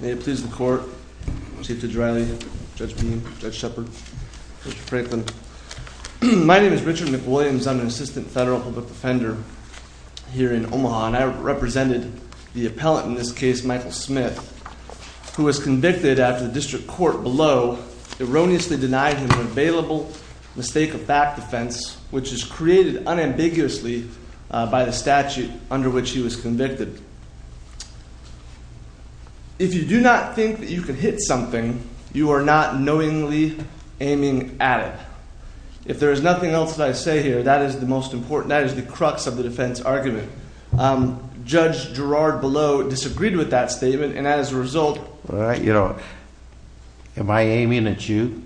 May it please the court, Chief Judge Riley, Judge Mead, Judge Shepard, Mr. Franklin. My name is Richard McWilliams. I'm an assistant federal public defender here in Omaha. And I represented the appellant in this case, Michael Smith, who was convicted after the district court below erroneously denied him an available mistake of fact defense, which is created unambiguously by the statute under which he was convicted. If you do not think that you can hit something, you are not knowingly aiming at it. If there is nothing else that I say here, that is the most important. That is the crux of the defense argument. Judge Girard below disagreed with that statement. And as a result, you know, am I aiming at you?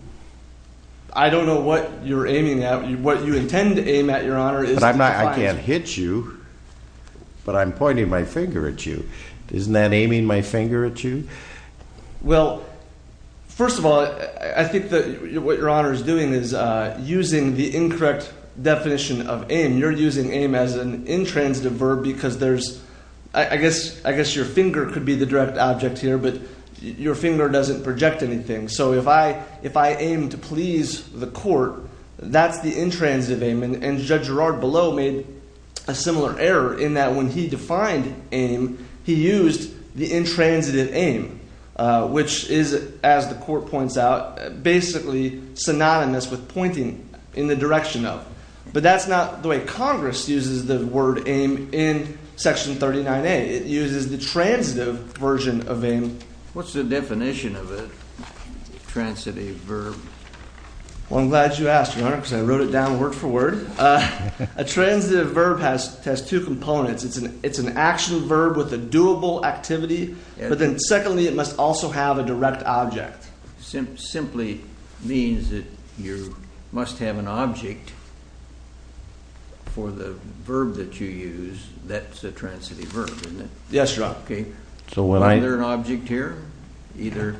I don't know what you're aiming at. What you intend to aim at, Your Honor. But I'm not, I can't hit you, but I'm pointing my finger at you. Isn't that aiming my finger at you? Well, first of all, I think that what Your Honor is doing is using the incorrect definition of aim. You're using aim as an intransitive verb because there's, I guess, I guess your finger could be the direct object here. But your finger doesn't project anything. So if I, if I aim to please the court, that's the intransitive aim. And Judge Girard below made a similar error in that when he defined aim, he used the intransitive aim, which is, as the court points out, basically synonymous with pointing in the direction of. But that's not the way Congress uses the word aim in Section 39A. It uses the transitive version of aim. What's the definition of a transitive verb? Well, I'm glad you asked, Your Honor, because I wrote it down word for word. A transitive verb has two components. It's an action verb with a doable activity. But then secondly, it must also have a direct object. Simply means that you must have an object for the verb that you use. That's a transitive verb, isn't it? Yes, Your Honor. So when I. Is there an object here? Either.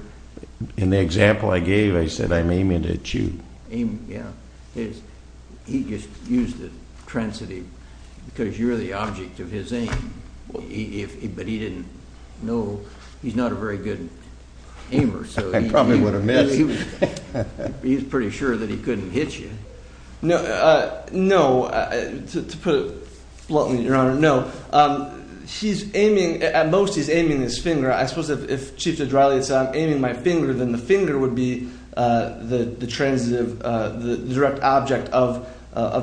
In the example I gave, I said I'm aiming at you. Aim, yeah. He just used the transitive because you're the object of his aim. But he didn't know. He's not a very good aimer. I probably would have missed. He's pretty sure that he couldn't hit you. No, no. To put it bluntly, Your Honor, no. He's aiming. At most, he's aiming his finger. I suppose if Chiefs of Dry League said I'm aiming my finger, then the finger would be the transitive, the direct object of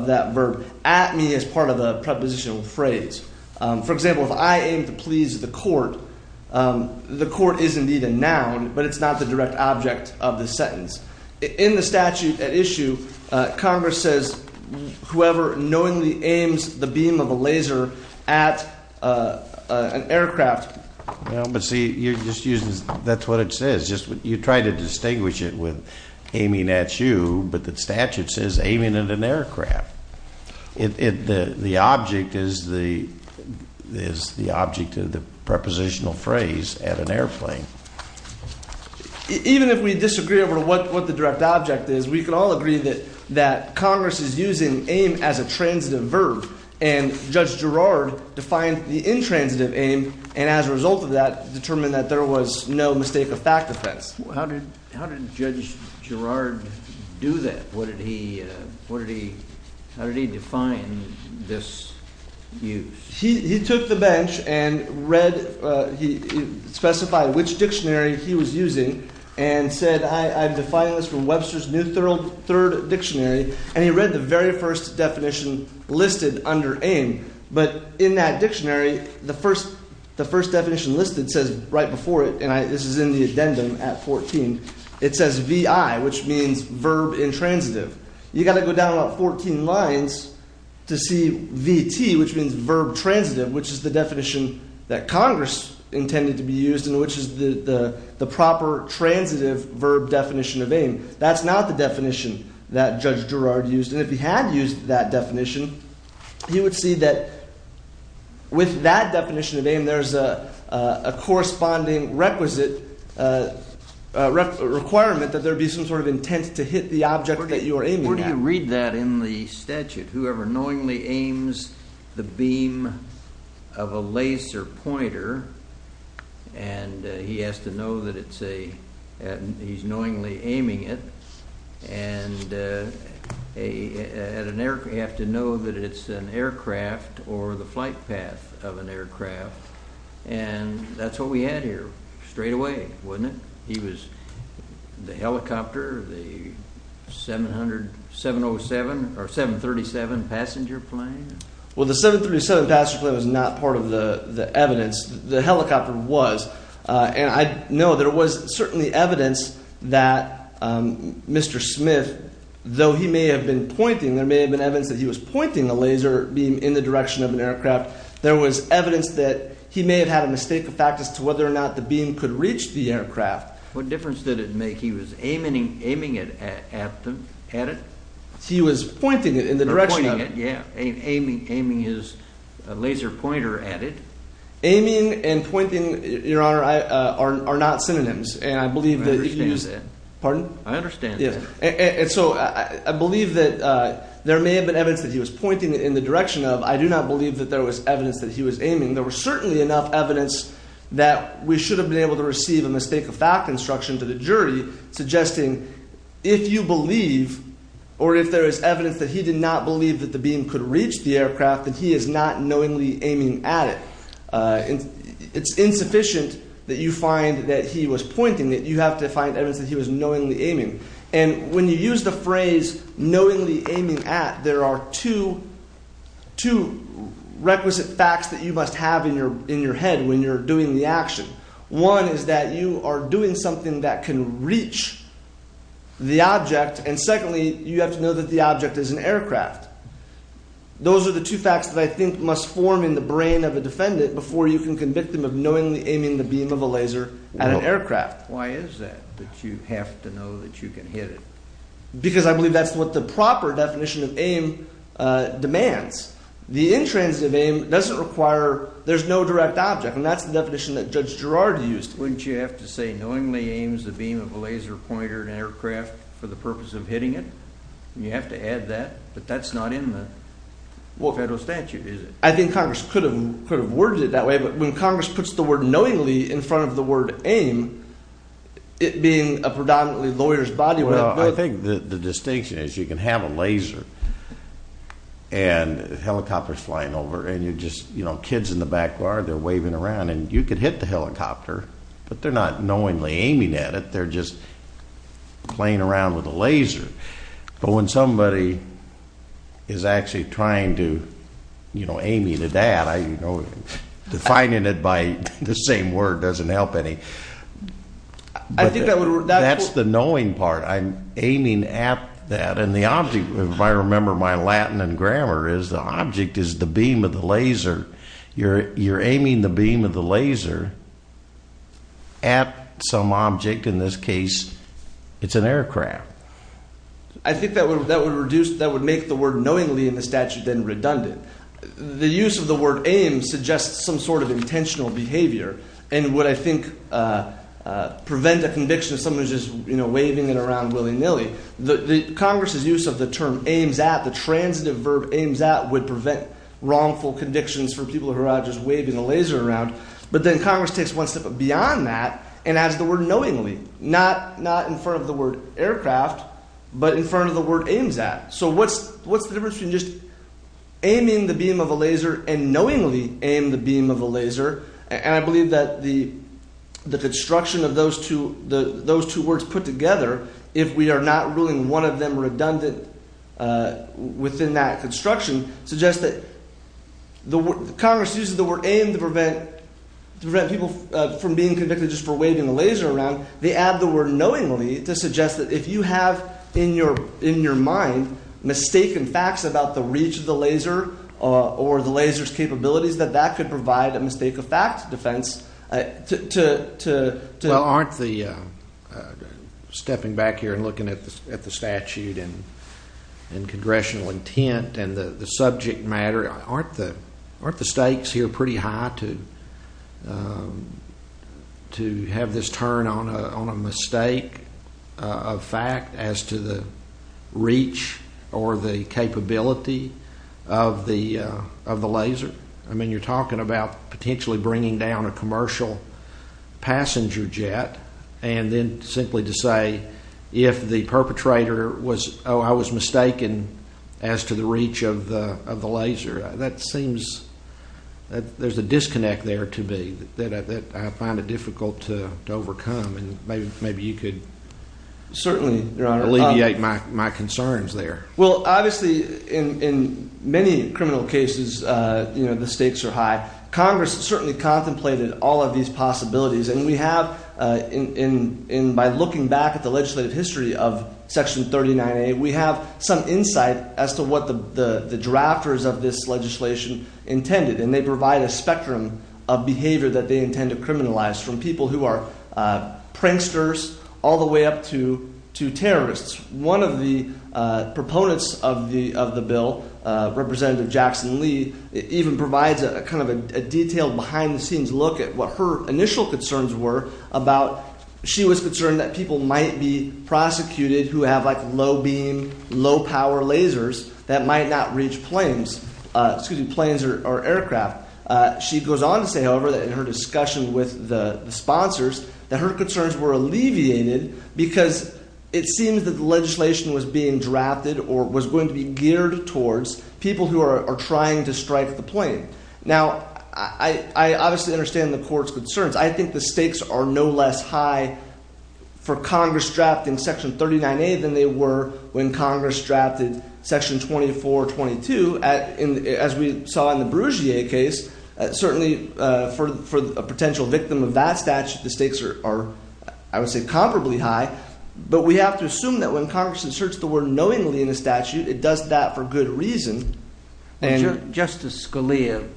that verb. At me is part of a prepositional phrase. For example, if I aim to please the court, the court is indeed a noun, but it's not the direct object of the sentence. In the statute at issue, Congress says whoever knowingly aims the beam of a laser at an aircraft. But see, you're just using, that's what it says. You try to distinguish it with aiming at you, but the statute says aiming at an aircraft. The object is the object of the prepositional phrase at an airplane. Even if we disagree over what the direct object is, we can all agree that Congress is using aim as a transitive verb. And Judge Gerrard defined the intransitive aim and as a result of that determined that there was no mistake of fact defense. How did Judge Gerrard do that? What did he, what did he, how did he define this use? He took the bench and read, he specified which dictionary he was using and said I've defined this from Webster's New Third Dictionary. And he read the very first definition listed under aim. But in that dictionary, the first definition listed says right before it, and this is in the addendum at 14, it says VI, which means verb intransitive. You've got to go down about 14 lines to see VT, which means verb transitive, which is the definition that Congress intended to be used and which is the proper transitive verb definition of aim. That's not the definition that Judge Gerrard used. And if he had used that definition, he would see that with that definition of aim, there's a corresponding requisite requirement that there be some sort of intent to hit the object that you are aiming at. Where do you read that in the statute? Whoever knowingly aims the beam of a laser pointer and he has to know that it's a, he's knowingly aiming it. And at an air, you have to know that it's an aircraft or the flight path of an aircraft. And that's what we had here straight away, wasn't it? He was the helicopter, the 700, 707 or 737 passenger plane. Well, the 737 passenger plane was not part of the evidence. The helicopter was. And I know there was certainly evidence that Mr. Smith, though he may have been pointing, there may have been evidence that he was pointing the laser beam in the direction of an aircraft. There was evidence that he may have had a mistake of fact as to whether or not the beam could reach the aircraft. What difference did it make? He was aiming it at it? He was pointing it in the direction of it. Yeah, aiming his laser pointer at it. Aiming and pointing, Your Honor, are not synonyms. And I believe that you use it. Pardon? I understand. And so I believe that there may have been evidence that he was pointing it in the direction of. I do not believe that there was evidence that he was aiming. There was certainly enough evidence that we should have been able to receive a mistake of fact instruction to the jury, suggesting if you believe or if there is evidence that he did not believe that the beam could reach the aircraft, that he is not knowingly aiming at it. It's insufficient that you find that he was pointing it. You have to find evidence that he was knowingly aiming. And when you use the phrase knowingly aiming at, there are two requisite facts that you must have in your head when you're doing the action. One is that you are doing something that can reach the object. And secondly, you have to know that the object is an aircraft. Those are the two facts that I think must form in the brain of a defendant before you can convict them of knowingly aiming the beam of a laser at an aircraft. Why is that that you have to know that you can hit it? Because I believe that's what the proper definition of aim demands. The intransitive aim doesn't require – there's no direct object. And that's the definition that Judge Girard used. Wouldn't you have to say knowingly aims the beam of a laser pointer at an aircraft for the purpose of hitting it? You have to add that. But that's not in the federal statute, is it? I think Congress could have worded it that way. But when Congress puts the word knowingly in front of the word aim, it being a predominantly lawyer's body would have – Well, I think the distinction is you can have a laser and a helicopter's flying over. And you just – kids in the back yard, they're waving around. And you could hit the helicopter, but they're not knowingly aiming at it. They're just playing around with a laser. But when somebody is actually trying to aim you to that, defining it by the same word doesn't help any. I think that would – That's the knowing part. I'm aiming at that. And the object, if I remember my Latin and grammar, is the object is the beam of the laser. You're aiming the beam of the laser at some object. In this case, it's an aircraft. I think that would reduce – that would make the word knowingly in the statute then redundant. The use of the word aim suggests some sort of intentional behavior and would, I think, prevent a conviction if somebody was just waving it around willy-nilly. Congress's use of the term aims at, the transitive verb aims at, would prevent wrongful convictions for people who are just waving a laser around. But then Congress takes one step beyond that and adds the word knowingly, not in front of the word aircraft but in front of the word aims at. So what's the difference between just aiming the beam of a laser and knowingly aim the beam of a laser? And I believe that the construction of those two words put together, if we are not ruling one of them redundant within that construction, suggests that – Congress uses the word aim to prevent people from being convicted just for waving a laser around. They add the word knowingly to suggest that if you have in your mind mistaken facts about the reach of the laser or the laser's capabilities, that that could provide a mistake of fact defense to – and congressional intent and the subject matter, aren't the stakes here pretty high to have this turn on a mistake of fact as to the reach or the capability of the laser? I mean you're talking about potentially bringing down a commercial passenger jet and then simply to say if the perpetrator was, oh I was mistaken as to the reach of the laser. That seems, there's a disconnect there to be that I find it difficult to overcome and maybe you could alleviate my concerns there. Well, obviously in many criminal cases, the stakes are high. Congress certainly contemplated all of these possibilities and we have, by looking back at the legislative history of Section 39A, we have some insight as to what the drafters of this legislation intended. And they provide a spectrum of behavior that they intend to criminalize from people who are pranksters all the way up to terrorists. One of the proponents of the bill, Representative Jackson Lee, even provides a kind of a detailed behind the scenes look at what her initial concerns were about – she was concerned that people might be prosecuted who have like low beam, low power lasers that might not reach planes, excuse me, planes or aircraft. She goes on to say, however, that in her discussion with the sponsors that her concerns were alleviated because it seems that the legislation was being drafted or was going to be geared towards people who are trying to strike the plane. Now, I obviously understand the court's concerns. I think the stakes are no less high for Congress drafting Section 39A than they were when Congress drafted Section 2422. As we saw in the Brugier case, certainly for a potential victim of that statute, the stakes are, I would say, comparably high. But we have to assume that when Congress inserts the word knowingly in a statute, it does that for good reason. Justice Scalia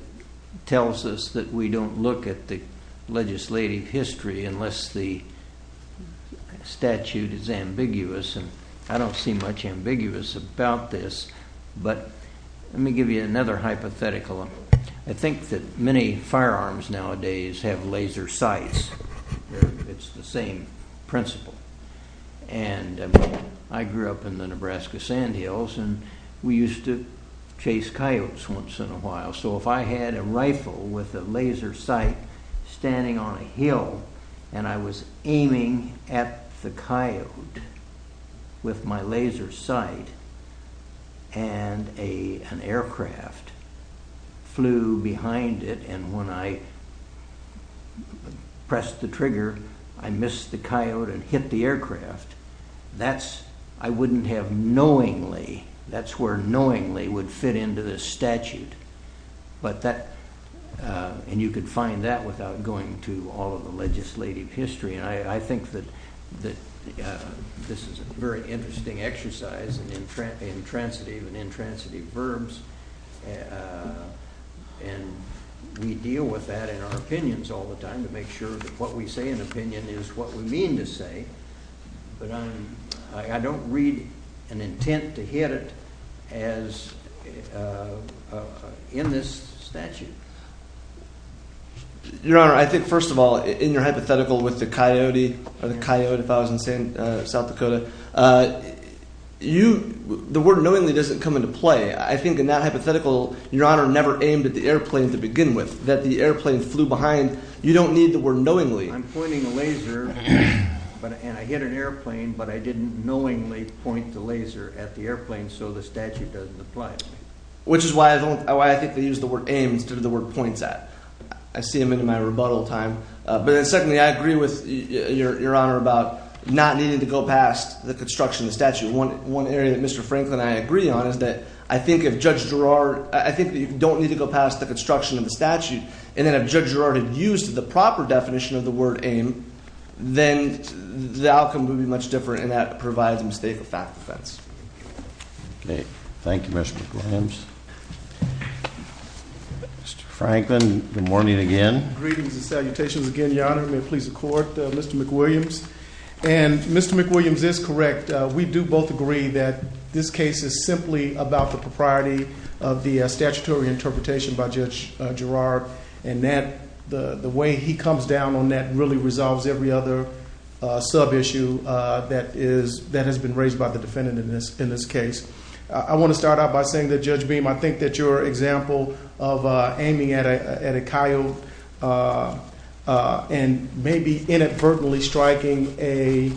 tells us that we don't look at the legislative history unless the statute is ambiguous. I don't see much ambiguous about this. But let me give you another hypothetical. I think that many firearms nowadays have laser sights. It's the same principle. I grew up in the Nebraska Sandhills, and we used to chase coyotes once in a while. So if I had a rifle with a laser sight standing on a hill, and I was aiming at the coyote with my laser sight, and an aircraft flew behind it, and when I pressed the trigger, I missed the coyote and hit the aircraft, I wouldn't have knowingly, that's where knowingly would fit into this statute. And you could find that without going to all of the legislative history. And I think that this is a very interesting exercise in intransitive and intransitive verbs. And we deal with that in our opinions all the time to make sure that what we say in opinion is what we mean to say. But I don't read an intent to hit it as in this statute. Your Honor, I think first of all, in your hypothetical with the coyote, or the coyote if I was in South Dakota, the word knowingly doesn't come into play. I think in that hypothetical, Your Honor never aimed at the airplane to begin with. That the airplane flew behind, you don't need the word knowingly. I'm pointing a laser, and I hit an airplane, but I didn't knowingly point the laser at the airplane, so the statute doesn't apply to me. Which is why I think they use the word aim instead of the word points at. I see them in my rebuttal time. But then secondly, I agree with Your Honor about not needing to go past the construction of the statute. One area that Mr. Franklin and I agree on is that I think if Judge Girard, I think that you don't need to go past the construction of the statute. And then if Judge Girard had used the proper definition of the word aim, then the outcome would be much different, and that provides a mistake of fact defense. Okay, thank you Mr. McWilliams. Mr. Franklin, good morning again. Greetings and salutations again, Your Honor. May it please the court, Mr. McWilliams. And Mr. McWilliams is correct. We do both agree that this case is simply about the propriety of the statutory interpretation by Judge Girard. And the way he comes down on that really resolves every other sub-issue that has been raised by the defendant in this case. I want to start out by saying that Judge Beam, I think that your example of aiming at a coyote and maybe inadvertently striking an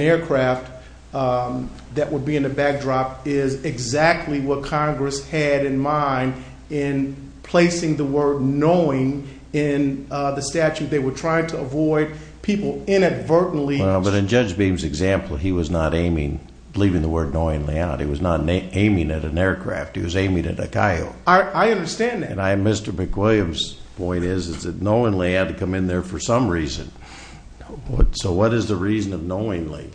aircraft that would be in the backdrop is exactly what Congress had in mind in placing the word knowing in the statute. They were trying to avoid people inadvertently. Well, but in Judge Beam's example, he was not aiming, leaving the word knowingly out. He was not aiming at an aircraft. He was aiming at a coyote. I understand that. And Mr. McWilliams' point is that knowingly had to come in there for some reason. So what is the reason of knowingly?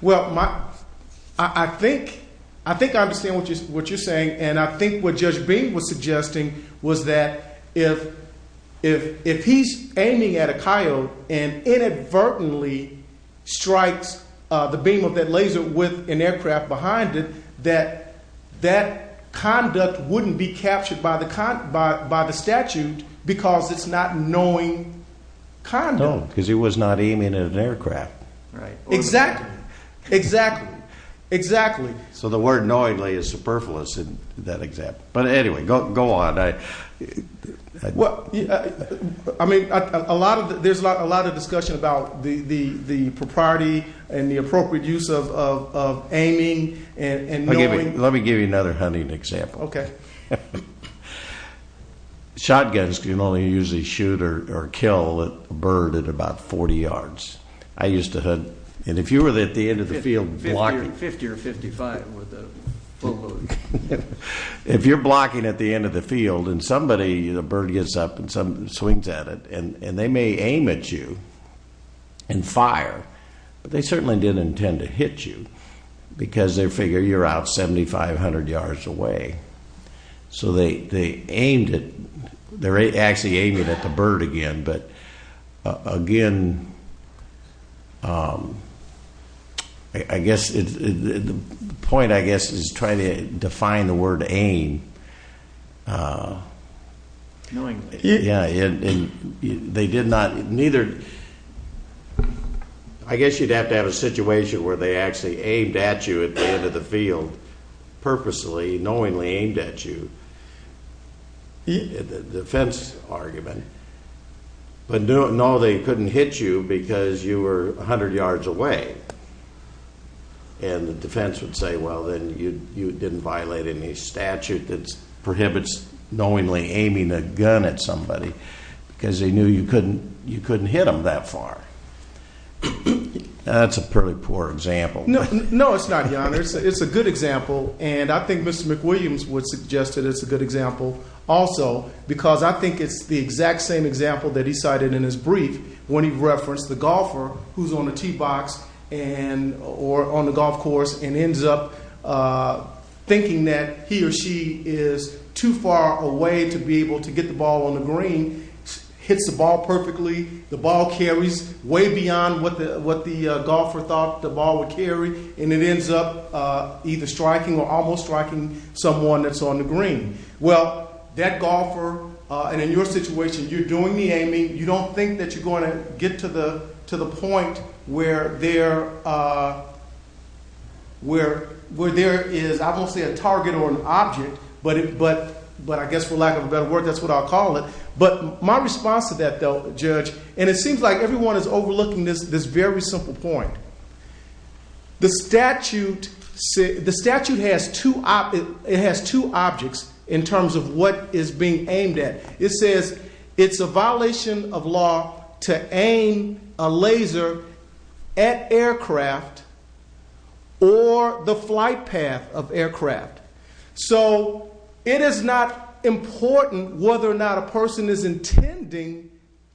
Well, I think I understand what you're saying. And I think what Judge Beam was suggesting was that if he's aiming at a coyote and inadvertently strikes the beam of that laser with an aircraft behind it, that that conduct wouldn't be captured by the statute because it's not knowing conduct. No, because he was not aiming at an aircraft. Right. Exactly. Exactly. Exactly. So the word knowingly is superfluous in that example. But anyway, go on. I mean, there's a lot of discussion about the propriety and the appropriate use of aiming and knowing. Let me give you another hunting example. Okay. Shotguns can only usually shoot or kill a bird at about 40 yards. I used to hunt. And if you were at the end of the field blocking. 50 or 55 with a bow load. If you're blocking at the end of the field and somebody, the bird gets up and swings at it, and they may aim at you and fire. But they certainly didn't intend to hit you because they figure you're out 7,500 yards away. So they aimed at, they're actually aiming at the bird again. But again, I guess the point, I guess, is trying to define the word aim. Knowingly. Yeah. And they did not, neither, I guess you'd have to have a situation where they actually aimed at you at the end of the field purposely, knowingly aimed at you, the defense argument. But no, they couldn't hit you because you were 100 yards away. And the defense would say, well, then you didn't violate any statute that prohibits knowingly aiming a gun at somebody because they knew you couldn't hit them that far. That's a pretty poor example. No, it's not, Your Honor. It's a good example. And I think Mr. McWilliams would suggest that it's a good example also, because I think it's the exact same example that he cited in his brief when he referenced the golfer who's on the tee box or on the golf course and ends up thinking that he or she is too far away to be able to get the ball on the green, hits the ball perfectly, the ball carries way beyond what the golfer thought the ball would carry, and it ends up either striking or almost striking someone that's on the green. Well, that golfer, and in your situation, you're doing the aiming. You don't think that you're going to get to the point where there is, I won't say a target or an object, but I guess for lack of a better word, that's what I'll call it. But my response to that, though, Judge, and it seems like everyone is overlooking this very simple point. The statute has two objects in terms of what is being aimed at. It says it's a violation of law to aim a laser at aircraft or the flight path of aircraft. So it is not important whether or not a person is intending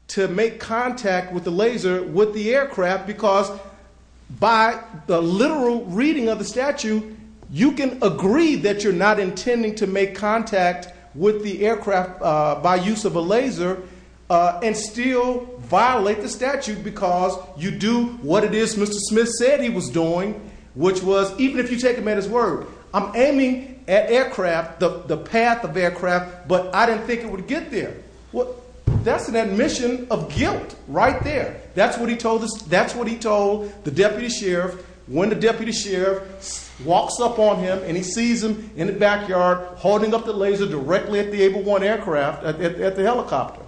to make contact with the laser with the aircraft because by the literal reading of the statute, you can agree that you're not intending to make contact with the aircraft by use of a laser and still violate the statute because you do what it is Mr. Smith said he was doing, which was even if you take him at his word, I'm aiming at aircraft, the path of aircraft, but I didn't think it would get there. That's an admission of guilt right there. That's what he told the deputy sheriff when the deputy sheriff walks up on him and he sees him in the backyard holding up the laser directly at the Able 1 aircraft, at the helicopter.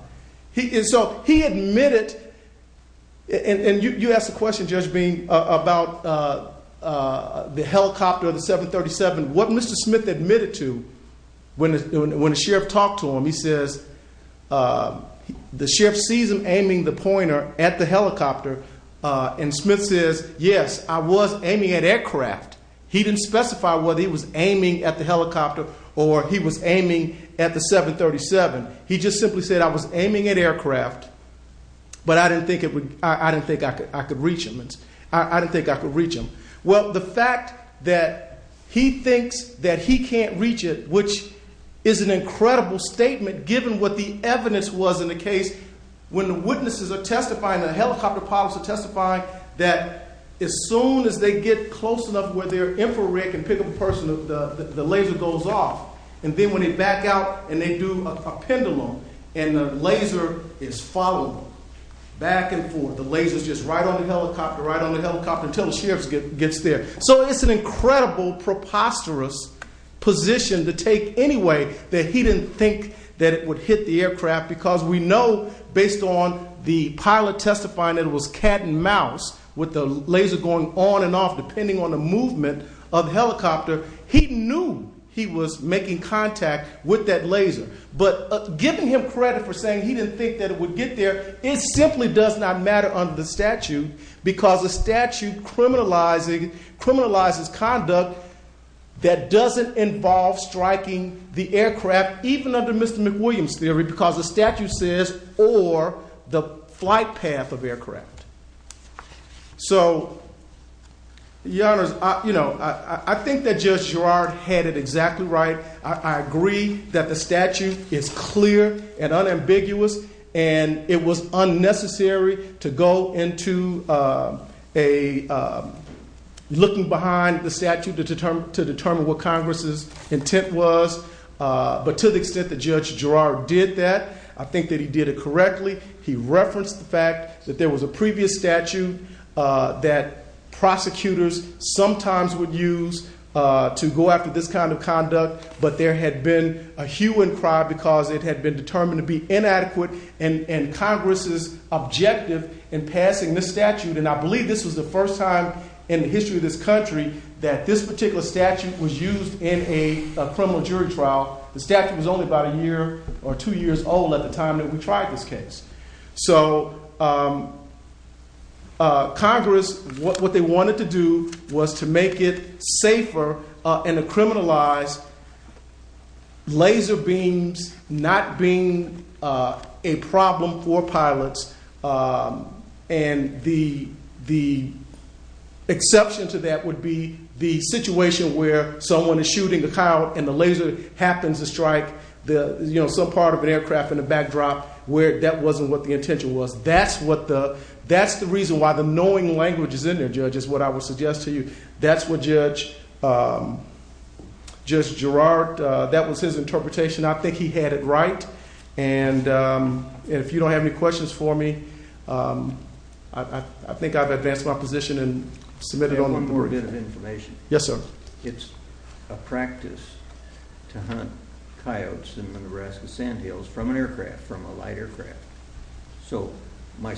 So he admitted, and you asked the question, Judge Bean, about the helicopter, the 737. What Mr. Smith admitted to when the sheriff talked to him, he says the sheriff sees him aiming the pointer at the helicopter, and Smith says, yes, I was aiming at aircraft. He didn't specify whether he was aiming at the helicopter or he was aiming at the 737. He just simply said I was aiming at aircraft, but I didn't think I could reach him. I didn't think I could reach him. Well, the fact that he thinks that he can't reach it, which is an incredible statement given what the evidence was in the case, when the witnesses are testifying, the helicopter pilots are testifying, that as soon as they get close enough where their infrared can pick up a person, the laser goes off. And then when they back out and they do a pendulum and the laser is followed back and forth, the laser is just right on the helicopter, right on the helicopter until the sheriff gets there. So it's an incredible preposterous position to take anyway that he didn't think that it would hit the aircraft because we know based on the pilot testifying that it was cat and mouse with the laser going on and off and making contact with that laser. But giving him credit for saying he didn't think that it would get there, it simply does not matter under the statute because the statute criminalizes conduct that doesn't involve striking the aircraft, even under Mr. McWilliams' theory because the statute says or the flight path of aircraft. So, your honors, I think that Judge Girard had it exactly right. I agree that the statute is clear and unambiguous and it was unnecessary to go into looking behind the statute to determine what Congress' intent was. But to the extent that Judge Girard did that, I think that he did it correctly. He referenced the fact that there was a previous statute that prosecutors sometimes would use to go after this kind of conduct, but there had been a hue and cry because it had been determined to be inadequate and Congress' objective in passing this statute, and I believe this was the first time in the history of this country that this particular statute was used in a criminal jury trial. The statute was only about a year or two years old at the time that we tried this case. So, Congress, what they wanted to do was to make it safer and to criminalize laser beams not being a problem for pilots and the exception to that would be the situation where someone is shooting a cow and the laser happens to strike some part of an aircraft in the backdrop where that wasn't what the intention was. That's the reason why the knowing language is in there, Judge, is what I would suggest to you. That's what Judge Girard, that was his interpretation. I think he had it right, and if you don't have any questions for me, I think I've advanced my position and submitted it on the board. I have one more bit of information. Yes, sir. It's a practice to hunt coyotes in the Nebraska Sandhills from an aircraft, from a light aircraft. So, my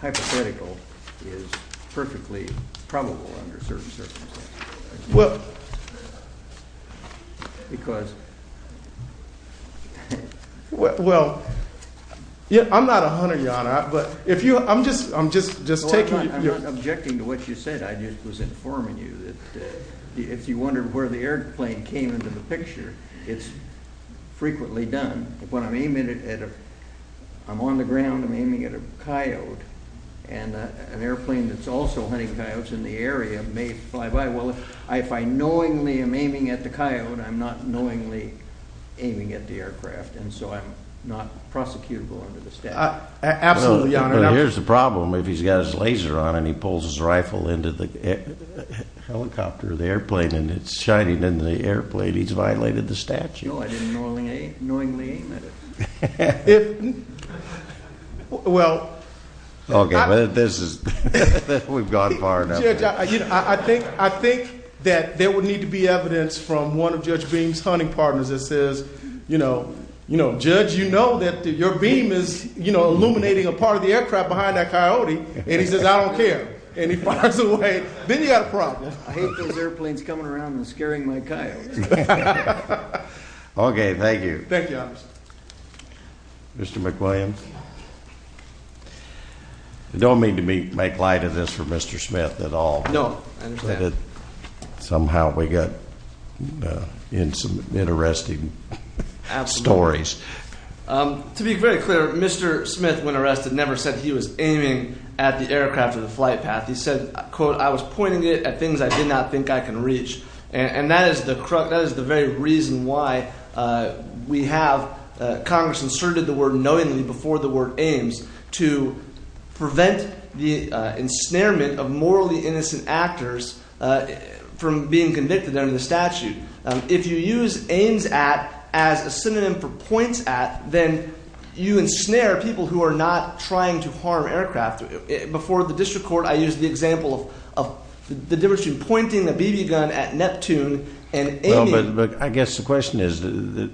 hypothetical is perfectly probable under certain circumstances. Well, I'm not a hunter, Your Honor. I'm not objecting to what you said. I was just informing you that if you wondered where the airplane came into the picture, it's frequently done. When I'm on the ground, I'm aiming at a coyote. An airplane that's also hunting coyotes in the area may fly by. Well, if I knowingly am aiming at the coyote, I'm not knowingly aiming at the aircraft, and so I'm not prosecutable under the statute. Absolutely, Your Honor. Here's the problem. If he's got his laser on and he pulls his rifle into the helicopter, the airplane, and it's shining into the airplane, he's violated the statute. No, I didn't knowingly aim at it. Well, I think that there would need to be evidence from one of Judge Beam's hunting partners that says, you know, Judge, you know that your beam is illuminating a part of the aircraft behind that coyote, and he says, I don't care. And he fires away. Then you've got a problem. I hate those airplanes coming around and scaring my coyotes. Okay, thank you. Thank you, Officer. Mr. McWilliams, I don't mean to make light of this for Mr. Smith at all. No, I understand. Somehow we got in some interesting stories. Absolutely. To be very clear, Mr. Smith, when arrested, never said he was aiming at the aircraft or the flight path. He said, quote, I was pointing it at things I did not think I could reach. And that is the very reason why we have Congress inserted the word knowingly before the word aims to prevent the ensnarement of morally innocent actors from being convicted under the statute. If you use aims at as a synonym for points at, then you ensnare people who are not trying to harm aircraft. Before the district court, I used the example of the difference between pointing a BB gun at Neptune and aiming. Well, but I guess the question is, do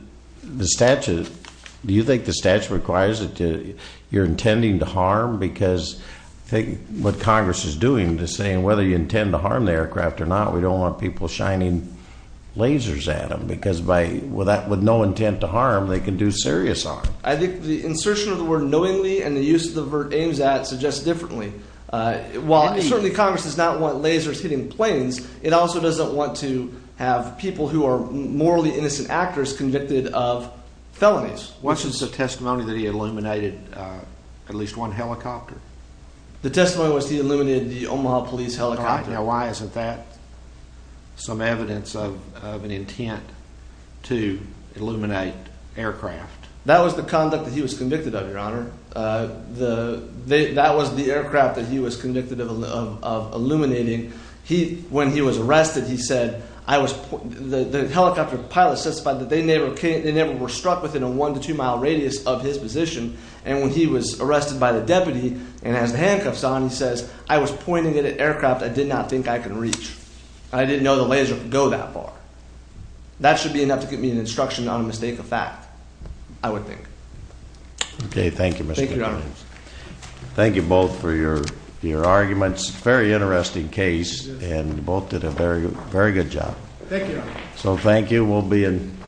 you think the statute requires that you're intending to harm? Because I think what Congress is doing is saying whether you intend to harm the aircraft or not, we don't want people shining lasers at them. Because with no intent to harm, they can do serious harm. I think the insertion of the word knowingly and the use of the word aims at suggests differently. While certainly Congress does not want lasers hitting planes, it also doesn't want to have people who are morally innocent actors convicted of felonies. What's the testimony that he illuminated at least one helicopter? The testimony was he illuminated the Omaha police helicopter. Now, why isn't that some evidence of an intent to illuminate aircraft? That was the conduct that he was convicted of, Your Honor. That was the aircraft that he was convicted of illuminating. When he was arrested, he said the helicopter pilot testified that they never were struck within a one to two mile radius of his position. And when he was arrested by the deputy and has the handcuffs on, he says, I was pointing at an aircraft I did not think I could reach. I didn't know the laser could go that far. That should be enough to give me an instruction on a mistake of fact, I would think. Okay, thank you, Mr. Williams. Thank you, Your Honor. Thank you both for your arguments. Very interesting case, and both did a very good job. Thank you, Your Honor. So thank you.